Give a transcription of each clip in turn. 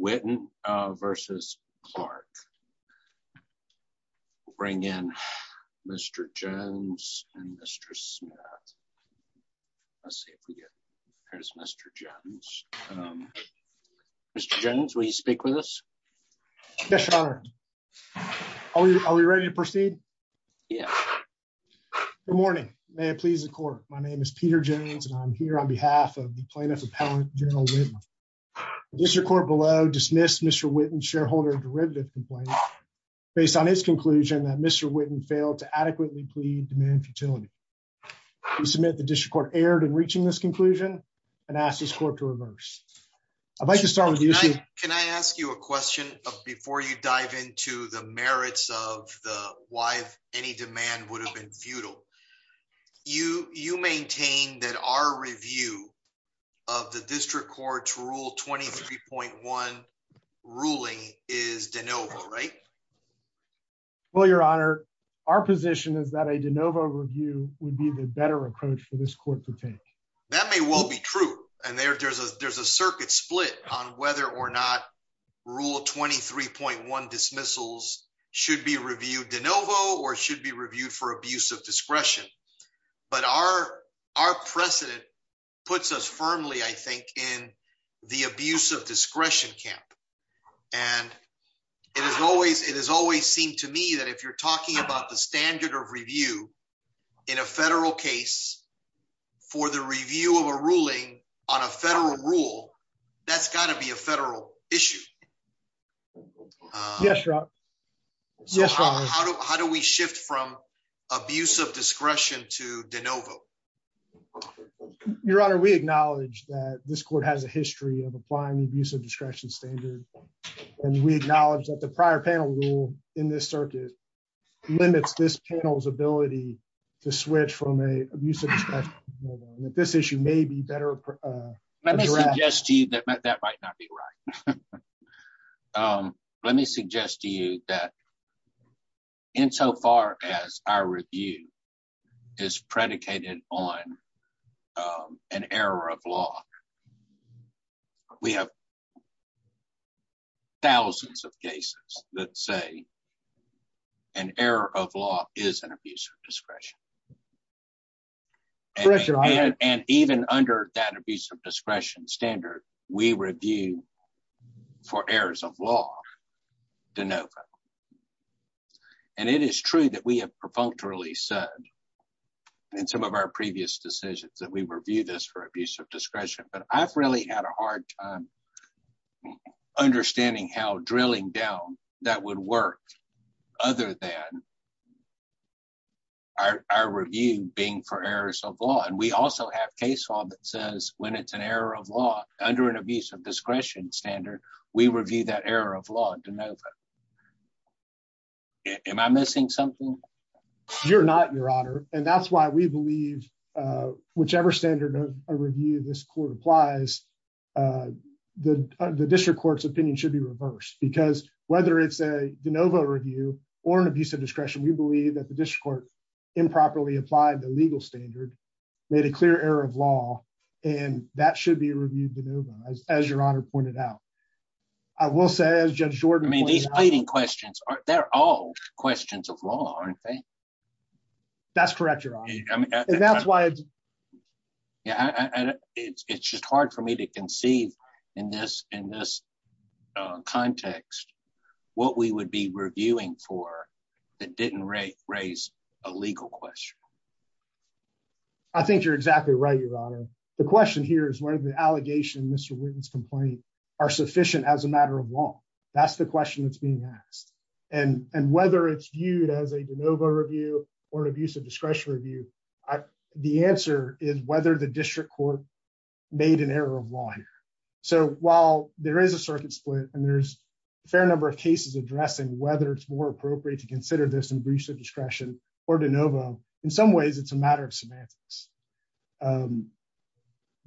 Whitten v. Clarke. We'll bring in Mr. Jones and Mr. Smith. Let's see if we get, there's Mr. Jones. Mr. Jones, will you speak with us? Yes, your honor. Are we ready to proceed? Yeah. Good morning. May it please the court. My name is Peter Jones and I'm here on behalf of the plaintiff appellate, General Whitman. The district court below dismissed Mr. Whitten's shareholder derivative complaint based on his conclusion that Mr. Whitten failed to adequately plead demand futility. We submit the district court erred in reaching this conclusion and ask this court to reverse. I'd like to start with you. Can I ask you a question before you dive into the merits of the why any demand would have been futile? You maintain that our review of the district court's rule 23.1 ruling is de novo, right? Well, your honor, our position is that a de novo review would be the better approach for this court to take. That may well be true. And there's a circuit split on whether or not 23.1 dismissals should be reviewed de novo or should be reviewed for abuse of discretion. But our precedent puts us firmly, I think, in the abuse of discretion camp. And it has always seemed to me that if you're talking about the standard of review in a federal case for the review of a ruling on a federal rule, that's got to be a federal issue. Yes, sir. Yes, sir. How do we shift from abuse of discretion to de novo? Your honor, we acknowledge that this court has a history of applying the abuse of discretion standard. And we acknowledge that the prior panel rule in this circuit limits this panel's ability to switch from a use of this issue may be better. Let me suggest to you that that might not be right. Let me suggest to you that insofar as our review is predicated on an error of law, we have thousands of cases that say an error of law is an abuse of discretion. Correct your honor. And even under that abuse of discretion standard, we review for errors of law de novo. And it is true that we have perfunctorily said in some of our previous decisions that we review this for abuse of discretion, but I've really had a hard time understanding how drilling down that would work other than our review being for errors of law. And we also have case law that says when it's an error of law under an abuse of discretion standard, we review that error of law de novo. Am I missing something? You're not your honor. And that's why we believe whichever standard of review this court applies, the district court's opinion should be reversed because whether it's a de novo review or an abuse of discretion, we believe that the district court improperly applied the legal standard, made a clear error of law, and that should be reviewed de novo as your honor pointed out. I will say as Judge Jordan. I mean, these pleading questions, they're all questions of law, aren't they? That's correct your honor. And that's why yeah, it's just hard for me to conceive in this in this context, what we would be reviewing for that didn't raise raise a legal question. I think you're exactly right, your honor. The question here is whether the allegation Mr. Wheaton's complaint are sufficient as a matter of law. That's the question that's being asked. And and whether it's viewed as a de novo review or an abuse of discretion review. The answer is whether the district court made an error of law here. So while there is a circuit split, and there's a fair number of cases addressing whether it's more appropriate to consider this in breach of discretion, or de novo, in some ways, it's a matter of semantics.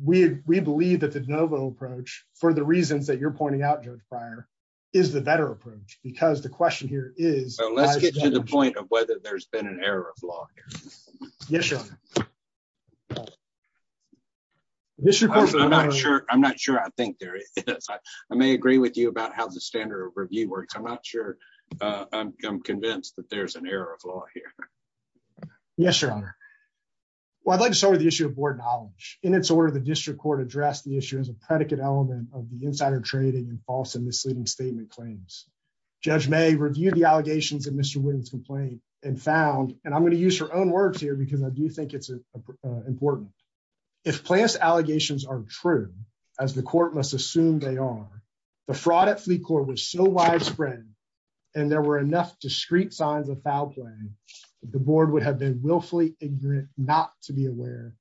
We believe that the de novo approach for the reasons that you're pointing out judge prior is the better approach because the question here is let's get to the point of whether there's been an error of law. Yes, your honor. I'm not sure I think there is. I may agree with you about how the standard of review works. I'm not sure. I'm convinced that there's an error of law here. Yes, your honor. Well, I'd like to start with the issue of board knowledge. In its order, the district court address the issue as a predicate element of the insider trading and false and misleading statement claims. Judge may review the allegations of Mr. Witten's complaint and found, and I'm going to use her own words here because I do think it's important. If plaintiff's allegations are true, as the court must assume they are, the fraud at fleet court was so widespread, and there were enough discreet signs of foul play, the board would have been willfully ignorant not to be aware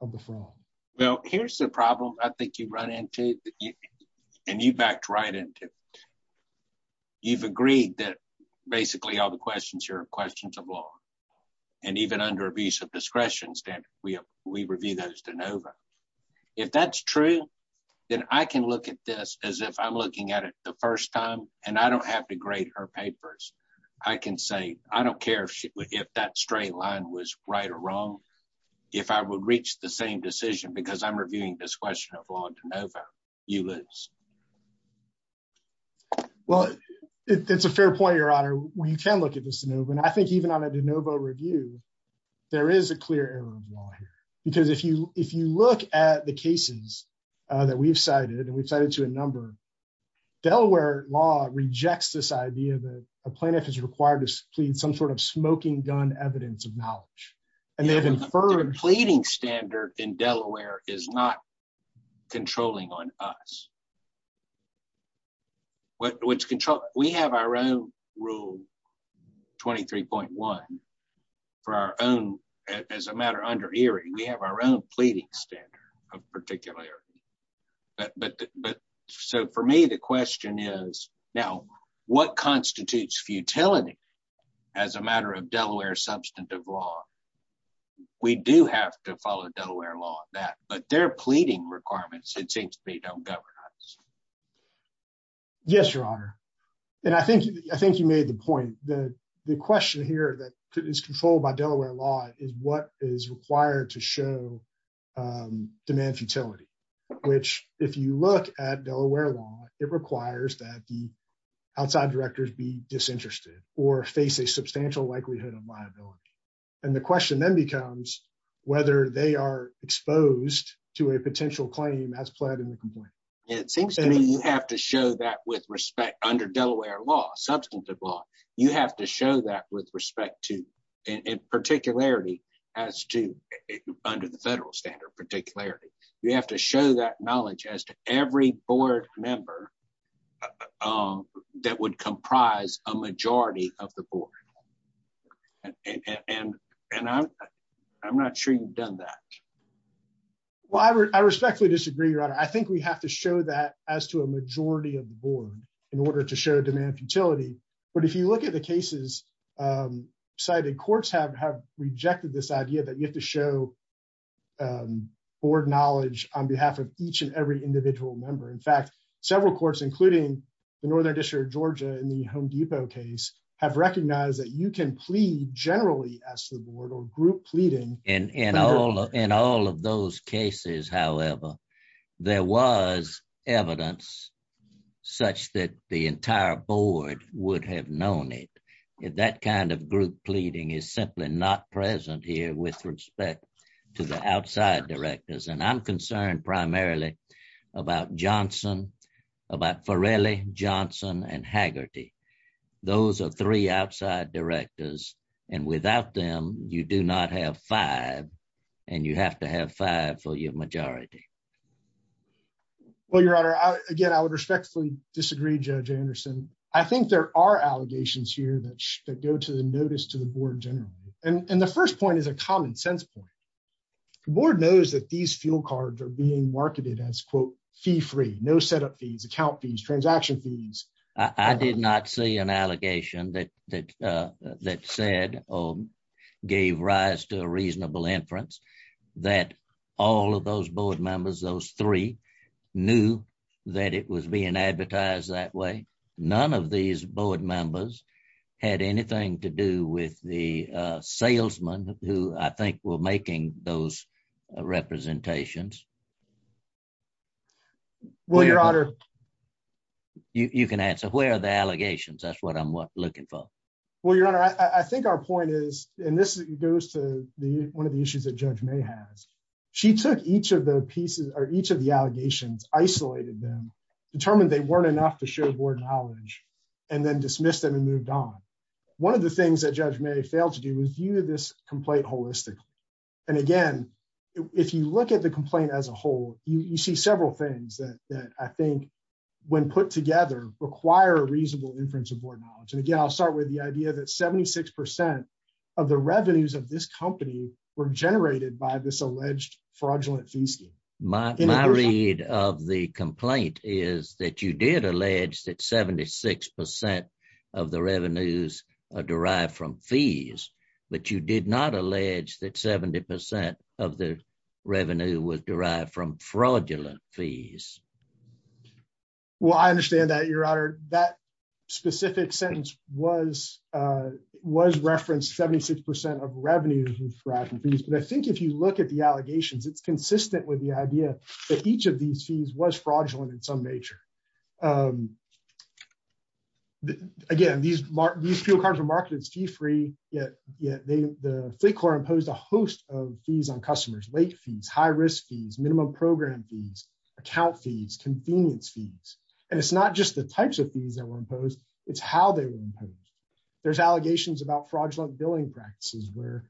of the fraud. Well, here's the problem I think you run into, and you backed right into. You've agreed that basically all the questions here are questions of law, and even under abuse of discretion standard, we review those de novo. If that's true, then I can look at this as if I'm looking at it the first time, and I don't have to grade her papers. I can say I don't care if that straight line was right or wrong. If I would reach the same decision because I'm reviewing this question of law de novo, you lose. Well, it's a fair point, your honor. We can look at this de novo, and I think even on a de novo review, there is a clear error of law here because if you look at the cases that we've cited, and we've cited to a number, Delaware law rejects this idea that a plaintiff is required to plead some sort of smoking gun evidence of knowledge, and they have inferred- in Delaware is not controlling on us. We have our own rule 23.1 for our own, as a matter under Erie, we have our own pleading standard of particularity, but so for me, the question is now what constitutes futility as a matter of Delaware substantive law. We do have to follow Delaware law on that, but their pleading requirements, it seems to me, don't govern us. Yes, your honor, and I think you made the point. The question here that is controlled by Delaware law is what is required to show demand futility, which if you look at Delaware law, it requires that the outside directors be disinterested or face a substantial likelihood of liability, and the question then becomes whether they are exposed to a potential claim as pled in the complaint. It seems to me you have to show that with respect under Delaware law, substantive law, you have to show that with respect to, in particularity as to, under the federal standard particularity. You have to show that knowledge as to every board member that would comprise a majority of the board, and I'm not sure you've done that. Well, I respectfully disagree, your honor. I think we have to show that as to a majority of the board in order to show demand futility, but if you look at the cases cited, courts have rejected this idea that you have to show board knowledge on behalf of each and every individual member. In fact, several courts, including the Northern District of Georgia in the Home Depot case, have recognized that you can plead generally as to the board or group pleading. In all of those cases, however, there was evidence such that the entire board would have known it. That kind of group pleading is simply not present here with respect to the outside directors, and I'm concerned primarily about Johnson, about Farrelly, Johnson, and Haggerty. Those are three outside directors, and without them, you do not have five, and you have to have five for your majority. Well, your honor, again, I would respectfully disagree, Judge Anderson. I think there are allegations here that go to the notice to the board generally, and the first point is a common sense point. The board knows that these fuel cards are being marketed as, quote, fee-free, no setup fees, account fees, transaction fees. I did not see an allegation that said or gave rise to a reasonable inference that all of those board members, those three, knew that it was being advertised that way. None of these board members had anything to do with the salesmen who, I think, were making those representations. Well, your honor... You can answer. Where are the allegations? That's what I'm looking for. Well, your honor, I think our point is, and this goes to one of the issues that Judge May has, she took each of the pieces or each of the allegations, isolated them, determined they weren't enough to show board knowledge, and then dismissed them and moved on. One of the things that Judge May failed to do was view this complaint holistically, and again, if you look at the complaint as a whole, you see several things that I think, when put together, require a reasonable inference of board knowledge, and again, I'll start with the idea that 76 percent of the revenues of this company were generated by this alleged fraudulent fees. My read of the complaint is that you did allege that 76 percent of the revenues are derived from fees, but you did not allege that 70 percent of the revenue was derived from fraudulent fees. Well, I understand that, your honor, that specific sentence was referenced, 76 percent of revenues were derived from fees, but I think if you look at the allegations, it's consistent with the idea that each of these fees was fraudulent in some nature. Again, these fuel cars were marketed as fee-free, yet the Fleet Corps imposed a host of fees on customers, late fees, high-risk fees, minimum program fees, account fees, convenience fees, and it's not just the types of fees that were imposed, it's how they were imposed. There's allegations about fraudulent billing practices where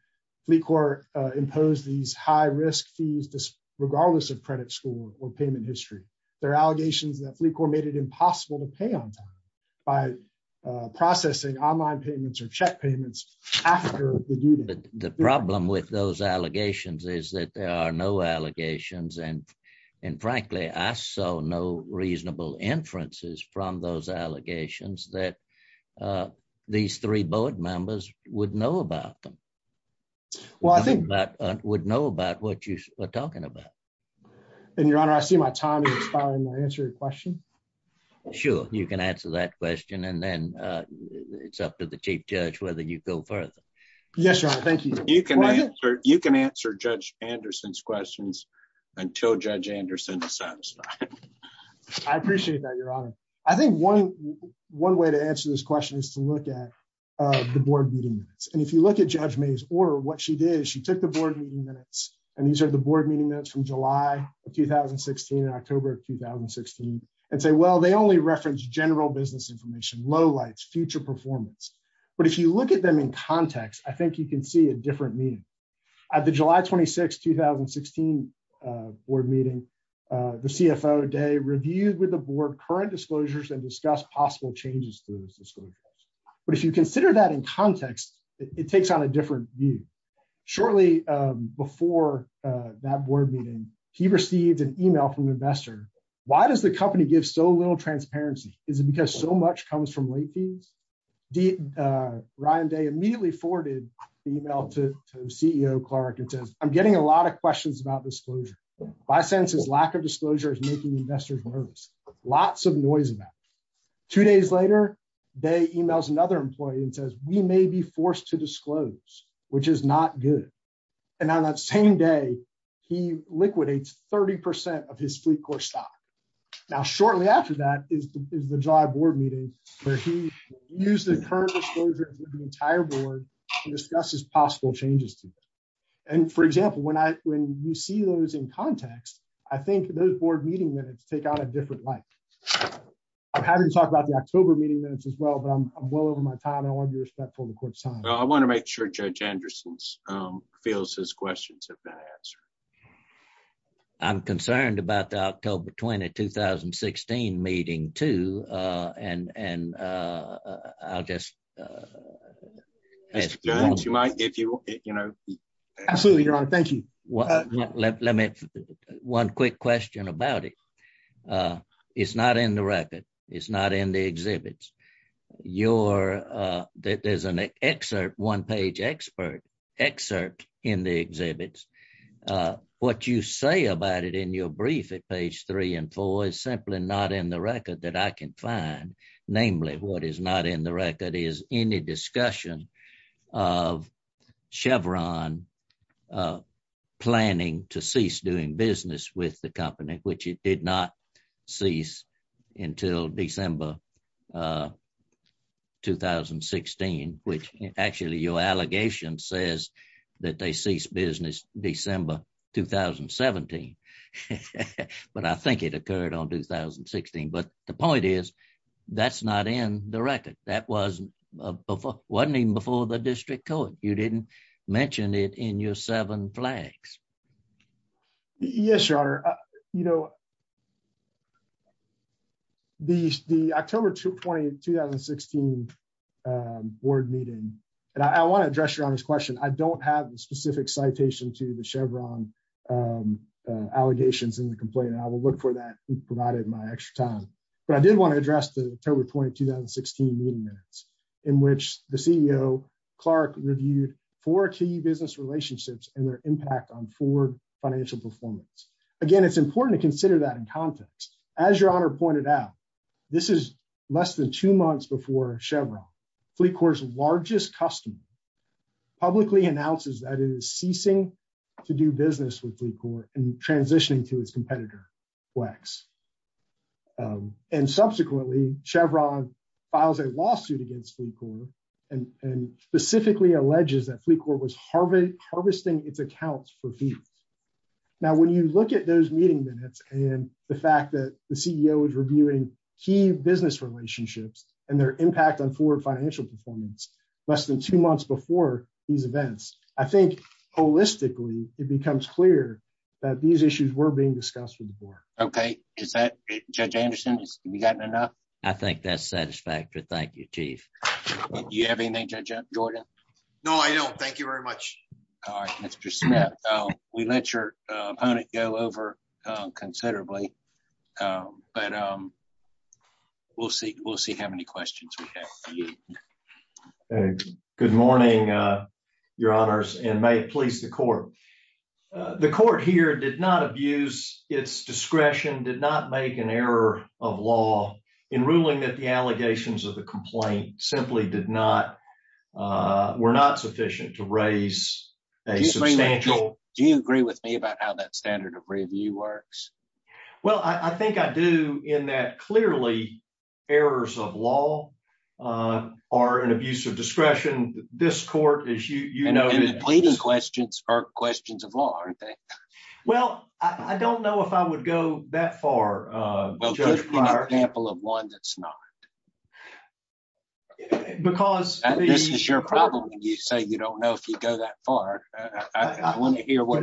Fleet Corps imposed these high-risk fees regardless of credit score or payment history. There are allegations that Fleet Corps made it impossible to pay on time by processing online payments or check payments after the due date. The problem with those allegations is that there are no allegations, and frankly, I saw no reasonable inferences from those allegations that these three board members would know about them, would know about what you are talking about. And, your honor, I see my time is expired. May I answer your question? Sure, you can answer that question, and then it's up to the Chief Judge whether you go further. Yes, your honor. Thank you. You can answer Judge Anderson's questions until Judge Anderson is satisfied. I appreciate that, your honor. I think one way to answer this question is to look at the board meeting minutes, and if you look at Judge May's order, what she did is she took the board meeting minutes, and these are the board meeting minutes from July of 2016 and October of 2016, and say, well, they only reference general business information, lowlights, future performance, but if you look at them in context, I think you can see a different meaning. At the July 26, 2016 board meeting, the CFO day reviewed with the board current disclosures and discussed possible changes to those disclosures, but if you consider that in context, it takes on a different view. Shortly before that board meeting, he received an email from an investor, why does the company give so little transparency? Is it because so much comes from late fees? Ryan Day immediately forwarded the email to CEO Clark and says, I'm getting a lot of questions about disclosure. My sense is lack of disclosure is making investors nervous. Lots of noise about it. Two days later, Day emails another employee and says, we may be forced to disclose, which is not good. And on that same day, he liquidates 30% of his fleet core stock. Now, shortly after that is the July board meeting where he used the current disclosures with the entire board and discusses possible changes to that. And for example, when you see those in context, I think those board meeting minutes take on a different light. I'm happy to talk about the October meeting minutes as well, but I'm well over my time. I want to be respectful of the court's fields as questions have been answered. I'm concerned about the October 20, 2016 meeting too. One quick question about it. It's not in the record. It's not in the exhibits. There's an excerpt, one page excerpt in the exhibits. What you say about it in your brief at page three and four is simply not in the record that I can find. Namely, what is not in the record is any discussion of Chevron planning to cease doing business with the company, which it did not cease until December 2016, which actually your allegation says that they ceased business December 2017. But I think it occurred on 2016. But the point is, that's not in the record. That wasn't wasn't even before the district court. You didn't mention it in your seven flags. Yes, your honor. You know, the the October 20, 2016 board meeting, and I want to address your honest question. I don't have the specific citation to the Chevron allegations in the complaint. I will look for that provided my extra time. But I did want to address the October 20, 2016 meeting minutes in which the CEO Clark reviewed four key business relationships and their impact on forward financial performance. Again, it's important to consider that in context, as your honor pointed out, this is less than two months before Chevron, Fleet Corps largest customer publicly announces that it is ceasing to do business with Fleet Corps and transitioning to its competitor, Wex. And subsequently, Chevron files a lawsuit against Fleet Corps, and specifically alleges that Fleet Corps was harvesting harvesting its accounts for fees. Now, when you look at those meeting minutes, and the fact that the CEO is reviewing key business relationships, and their impact on forward financial performance, less than two months before these events, I think, holistically, it becomes clear that these issues were being discussed with the board. Okay, is that Judge Anderson? We got enough? I think that's satisfactory. Thank you, Chief. Do you have anything, Judge Jordan? No, I don't. Thank you very much. All right, Mr. Smith. We let your opponent go over considerably. But we'll see. We'll see how many questions. Good morning, your honors and may it please the court. The court here did not abuse its discretion did not make an error of law in ruling that the allegations of the complaint simply did not were not sufficient to raise a substantial Do you agree with me about how that standard of review works? Well, I think I do in that clearly, errors of law are an abuse of discretion. This court is you know, pleading questions are questions of law. Well, I don't know if I would go that far. For example, of one that's not. Because this is your problem. You say you don't know if you go that far. I want to hear what?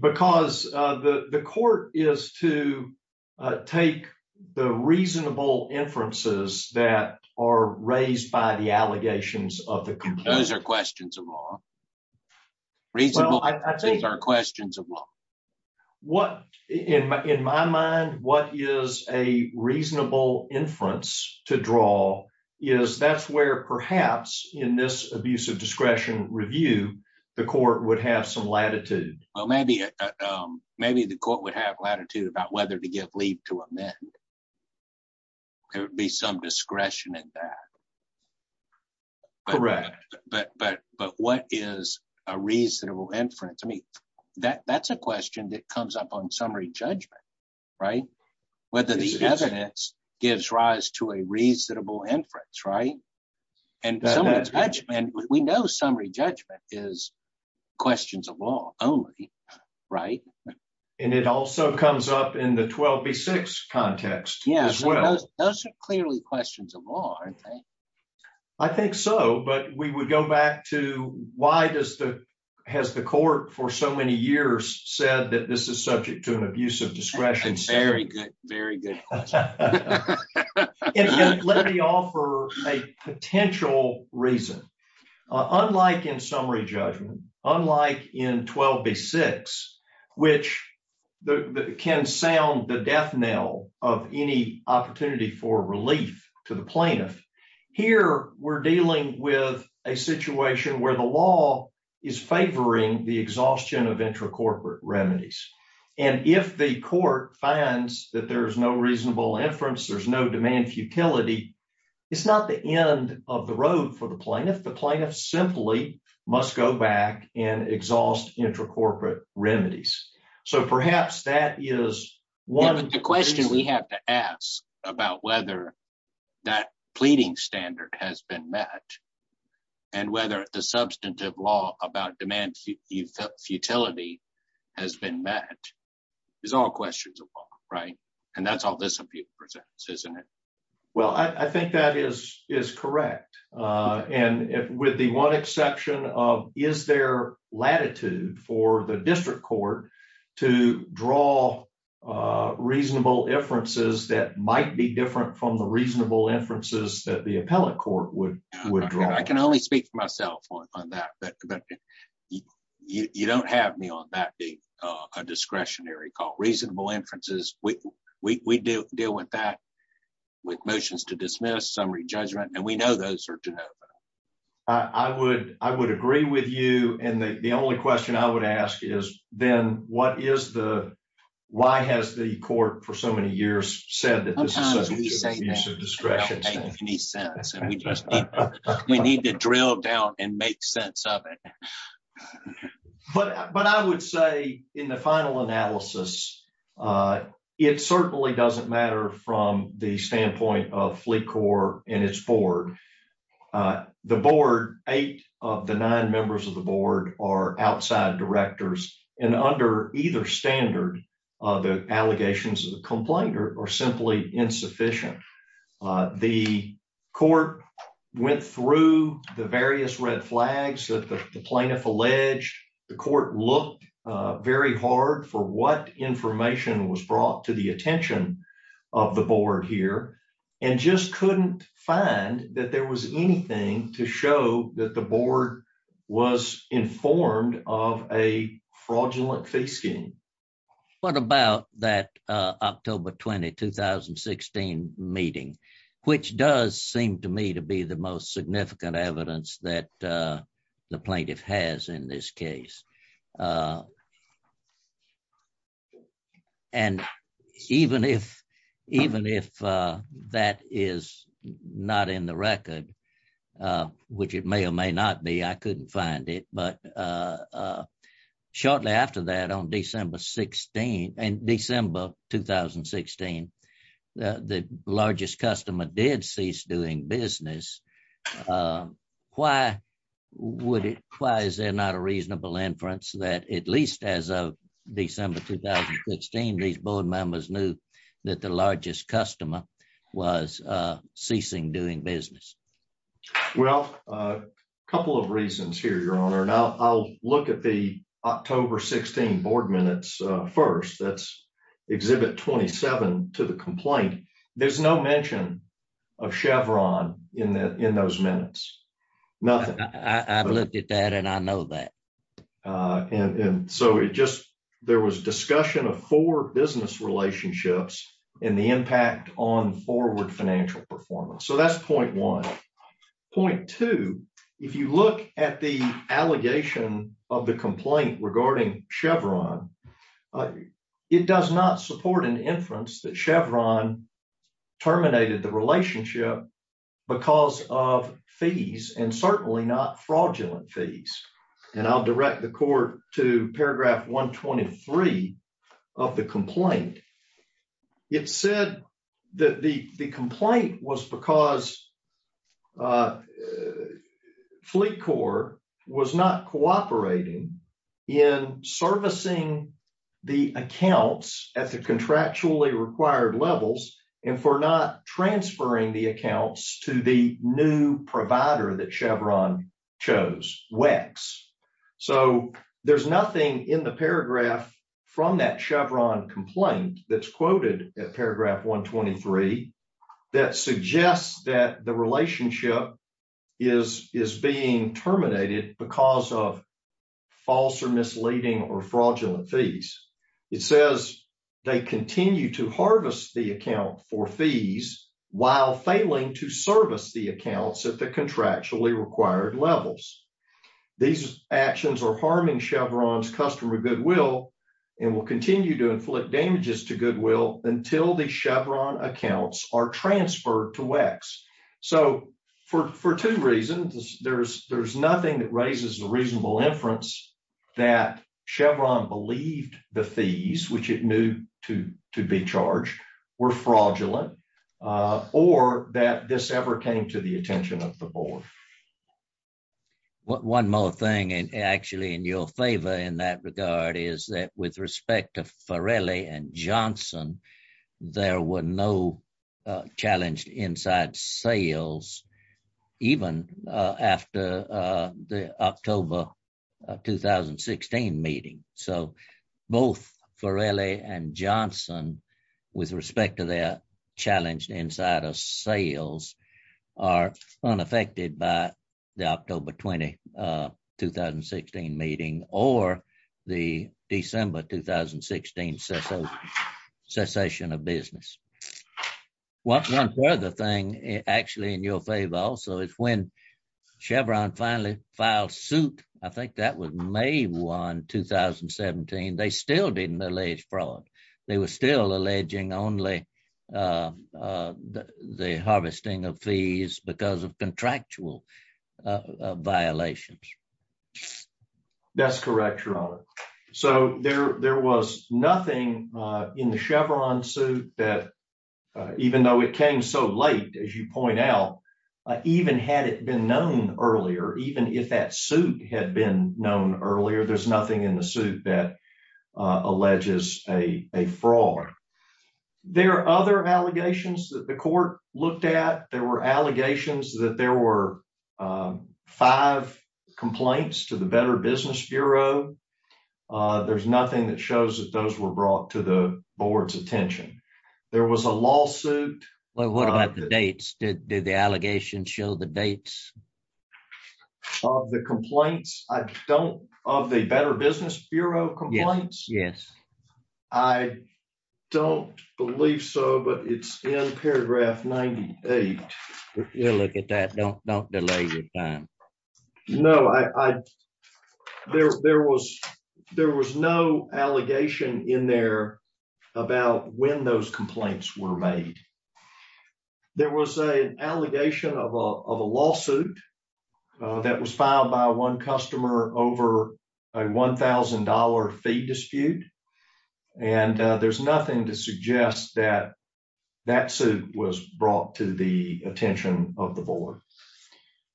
Because the court is to take the reasonable inferences that are raised by the allegations of the questions of law. Reasonable I think are questions of law. What in my in my mind, what is a reasonable inference to draw is that's where perhaps in this abuse of discretion review, the court would have some latitude. Well, maybe maybe the court would have latitude about whether to give leave to amend. There would be some discretion in that. Correct. But but but what is a reasonable inference? I mean, that that's a question that comes up on summary judgment, right? Whether the evidence gives rise to a reasonable inference, right? And we know summary judgment is questions of law only. Right. And it also comes up in the 12B6 context as well. Those are clearly questions of law, aren't they? I think so. But we would go back to why does the has the court for so many years said that this is subject to an abuse of discretion? Very good. Very good. Let me offer a potential reason. Unlike in summary judgment, unlike in 12B6, which can sound the death knell of any opportunity for relief to the plaintiff, here we're dealing with a situation where the law is favoring the exhaustion of intracorporate remedies. And if the court finds that there is no reasonable inference, there's no demand futility, it's not the end of the road for the plaintiff. The plaintiff simply must go back and exhaust intracorporate remedies. So perhaps that is one of the questions we have to ask about whether that pleading standard has been met and whether the substantive law about demand futility has been met is all questions of law. Right. And that's all this presents, isn't it? Well, I think that is is correct. And with the one exception of is there latitude for the district court to draw reasonable inferences that might be different from the reasonable inferences that the appellate court would withdraw? I can only speak for myself on that. But you don't have me on that a discretionary call, reasonable inferences. We do deal with that with motions to dismiss summary judgment. And we know those are to know. I would I would agree with you. And the only question I would ask is, then what is the why has the court for so many years said that this is? We need to drill down and make sense of it. But but I would say in the final analysis, it certainly doesn't matter from the standpoint of Fleet Corps and its board. The board, eight of the nine members of the board are outside directors and under either standard, the allegations of the complaint are simply insufficient. The court went through the various red flags that the plaintiff alleged the court looked very hard for what information was brought to the attention of the board here and just couldn't find that there was anything to show that the board was informed of a fraudulent fee scheme. What about that October 20 2016 meeting, which does seem to me to be the most significant evidence that the plaintiff has in this case. And even if even if that is not in the record, which it may or may not be, I couldn't find it. But shortly after that, on December 16, and December 2016, the largest customer did cease doing business. Why would it? Why is there not a reasonable inference that at least as of December 2015, these board members knew that the largest customer was ceasing doing business? Well, a couple of reasons here, your honor. Now I'll look at the October 16 board minutes. First, that's exhibit 27 to the complaint. There's no mention of Chevron in that in those minutes. Nothing. I've looked at that and I know that. And so it just there was discussion of four business relationships and the impact on forward financial performance. So that's point one. Point two, if you look at the allegation of the complaint regarding Chevron, it does not support an inference that Chevron terminated the relationship because of fees and certainly not fraudulent fees. And I'll direct the court to paragraph 123 of the complaint. It said that the complaint was because the Fleet Corps was not cooperating in servicing the accounts at the contractually required levels and for not transferring the accounts to the new provider that Chevron chose, WEX. So there's nothing in the paragraph from that Chevron complaint that's quoted at paragraph 123 that suggests that the relationship is is being terminated because of false or misleading or fraudulent fees. It says they continue to harvest the account for fees while failing to service the accounts at the contractually required levels. These actions are harming Chevron's customer goodwill and will continue to inflict damages to goodwill until the Chevron accounts are transferred to WEX. So for two reasons, there's nothing that raises a reasonable inference that Chevron believed the fees, which it knew to be charged, were fraudulent or that this ever came to the attention of the board. One more thing and actually in your favor in that regard is that with respect to Farrelly and Johnson, there were no challenged inside sales even after the October 2016 meeting. So both Farrelly and Johnson with respect to their challenged inside of sales are unaffected by the October 2016 meeting or the December 2016 cessation of business. One further thing actually in your favor also is when Chevron finally filed suit, I think that was May 1, 2017, they still didn't allege fraud. They were still alleging only the harvesting of fees because of contractual violations. That's correct, Your Honor. So there was nothing in the Chevron suit that even though it came so late, as you point out, even had it been known earlier, even if that suit had been known earlier, there's nothing in the suit that There were other allegations that the court looked at. There were allegations that there were five complaints to the Better Business Bureau. There's nothing that shows that those were brought to the board's attention. There was a lawsuit. What about the dates? Did the allegations show the dates of the complaints? Of the Better Business Bureau complaints? Yes. I don't believe so, but it's in paragraph 98. If you look at that, don't delay your time. No, there was no allegation in there about when those complaints were made. There was an allegation of a lawsuit that was filed by one customer over a $1,000 fee dispute. And there's nothing to suggest that that suit was brought to the attention of the board.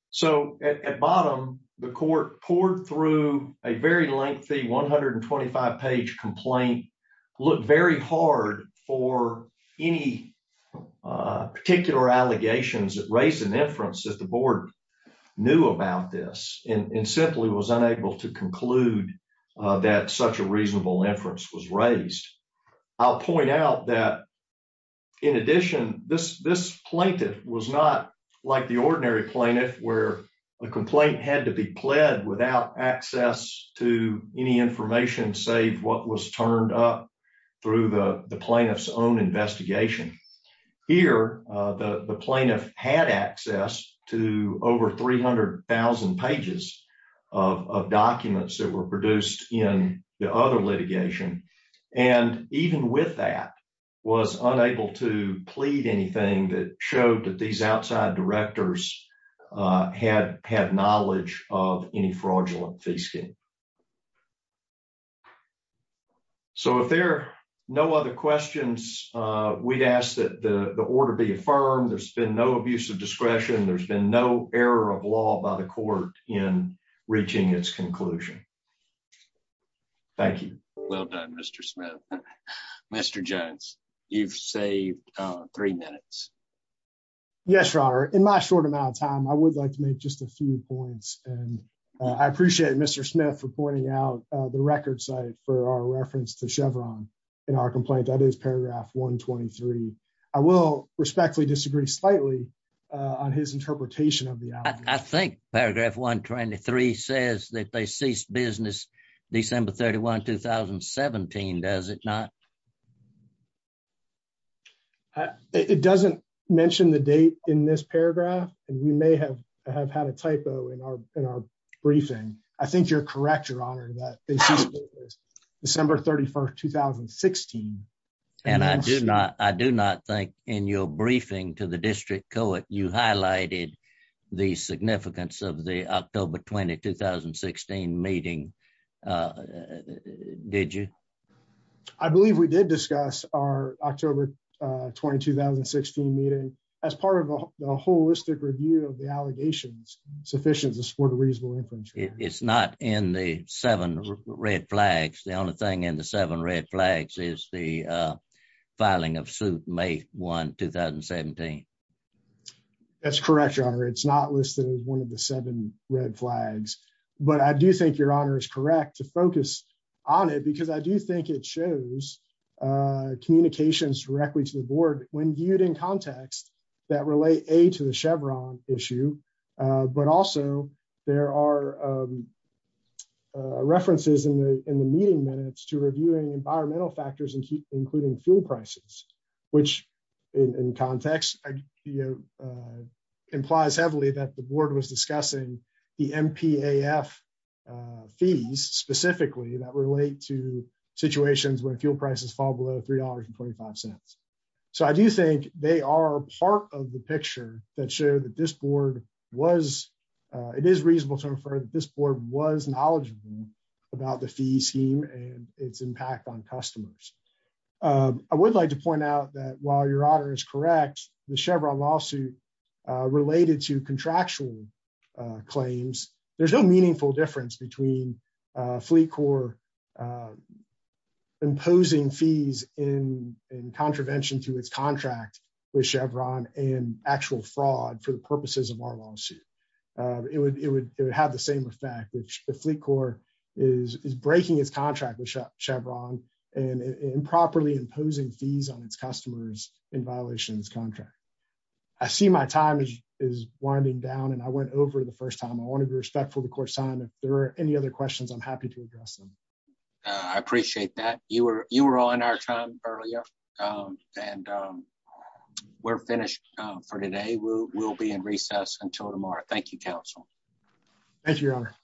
So at bottom, the court poured through a very lengthy 125-page complaint, looked very hard for any particular allegations that raised an inference that the board knew about this and simply was unable to conclude that such a reasonable inference was raised. I'll point out that, in addition, this plaintiff was not like the ordinary plaintiff where a complaint had to be pled without access to any information, save what was turned up through the plaintiff's own investigation. Here, the plaintiff had access to over 300,000 pages of documents that were produced in the other litigation. And even with that, was unable to plead anything that showed that these outside directors had knowledge of any fraudulent fees. So if there are no other questions, we ask that the order be affirmed. There's been no abuse of discretion. There's been no error of law by the court in reaching its conclusion. Thank you. Well done, Mr. Smith. Mr. Jones, you've saved three minutes. Yes, your honor. In my short amount of time, I would like to make just a few points. And I appreciate Mr. Smith for pointing out the record site for our reference to Chevron in our complaint. That is paragraph 123. I will respectfully disagree slightly on his interpretation of the outcome. I think paragraph 123 says that they ceased business December 31, 2017, does it not? It doesn't mention the date in this paragraph. And we may have had a typo in our briefing. I think you're correct, your honor, that they ceased business December 31, 2016. And I do not think in your briefing to the district court, you highlighted the significance of the October 20, 2016 meeting, did you? I believe we did discuss our October 20, 2016 meeting as part of a holistic review of the allegations sufficient to support a reasonable inference. It's not in the seven red flags. The only thing in the seven red flags is the filing of suit May 1, 2017. That's correct, your honor. It's not listed as one of the seven red flags. But I do think your correct to focus on it because I do think it shows communications directly to the board when viewed in context that relate to the Chevron issue, but also there are references in the meeting minutes to reviewing environmental factors, including fuel prices, which in context implies heavily that the board was discussing the MPAF fees specifically that relate to situations where fuel prices fall below $3.25. So I do think they are part of the picture that showed that this board was, it is reasonable to infer that this board was knowledgeable about the fee scheme and its impact on customers. I would like to point out that while your honor is correct, the Chevron lawsuit related to between Fleet Corps imposing fees in contravention to its contract with Chevron and actual fraud for the purposes of our lawsuit, it would have the same effect, which the Fleet Corps is breaking its contract with Chevron and improperly imposing fees on its customers in violation of its contract. I see my time is winding down and I went over the first time. I want to be respectful of the court's time. If there are any other questions, I'm happy to address them. I appreciate that. You were all in our time earlier and we're finished for today. We'll be in recess until tomorrow. Thank you, counsel. Thank you, your honor.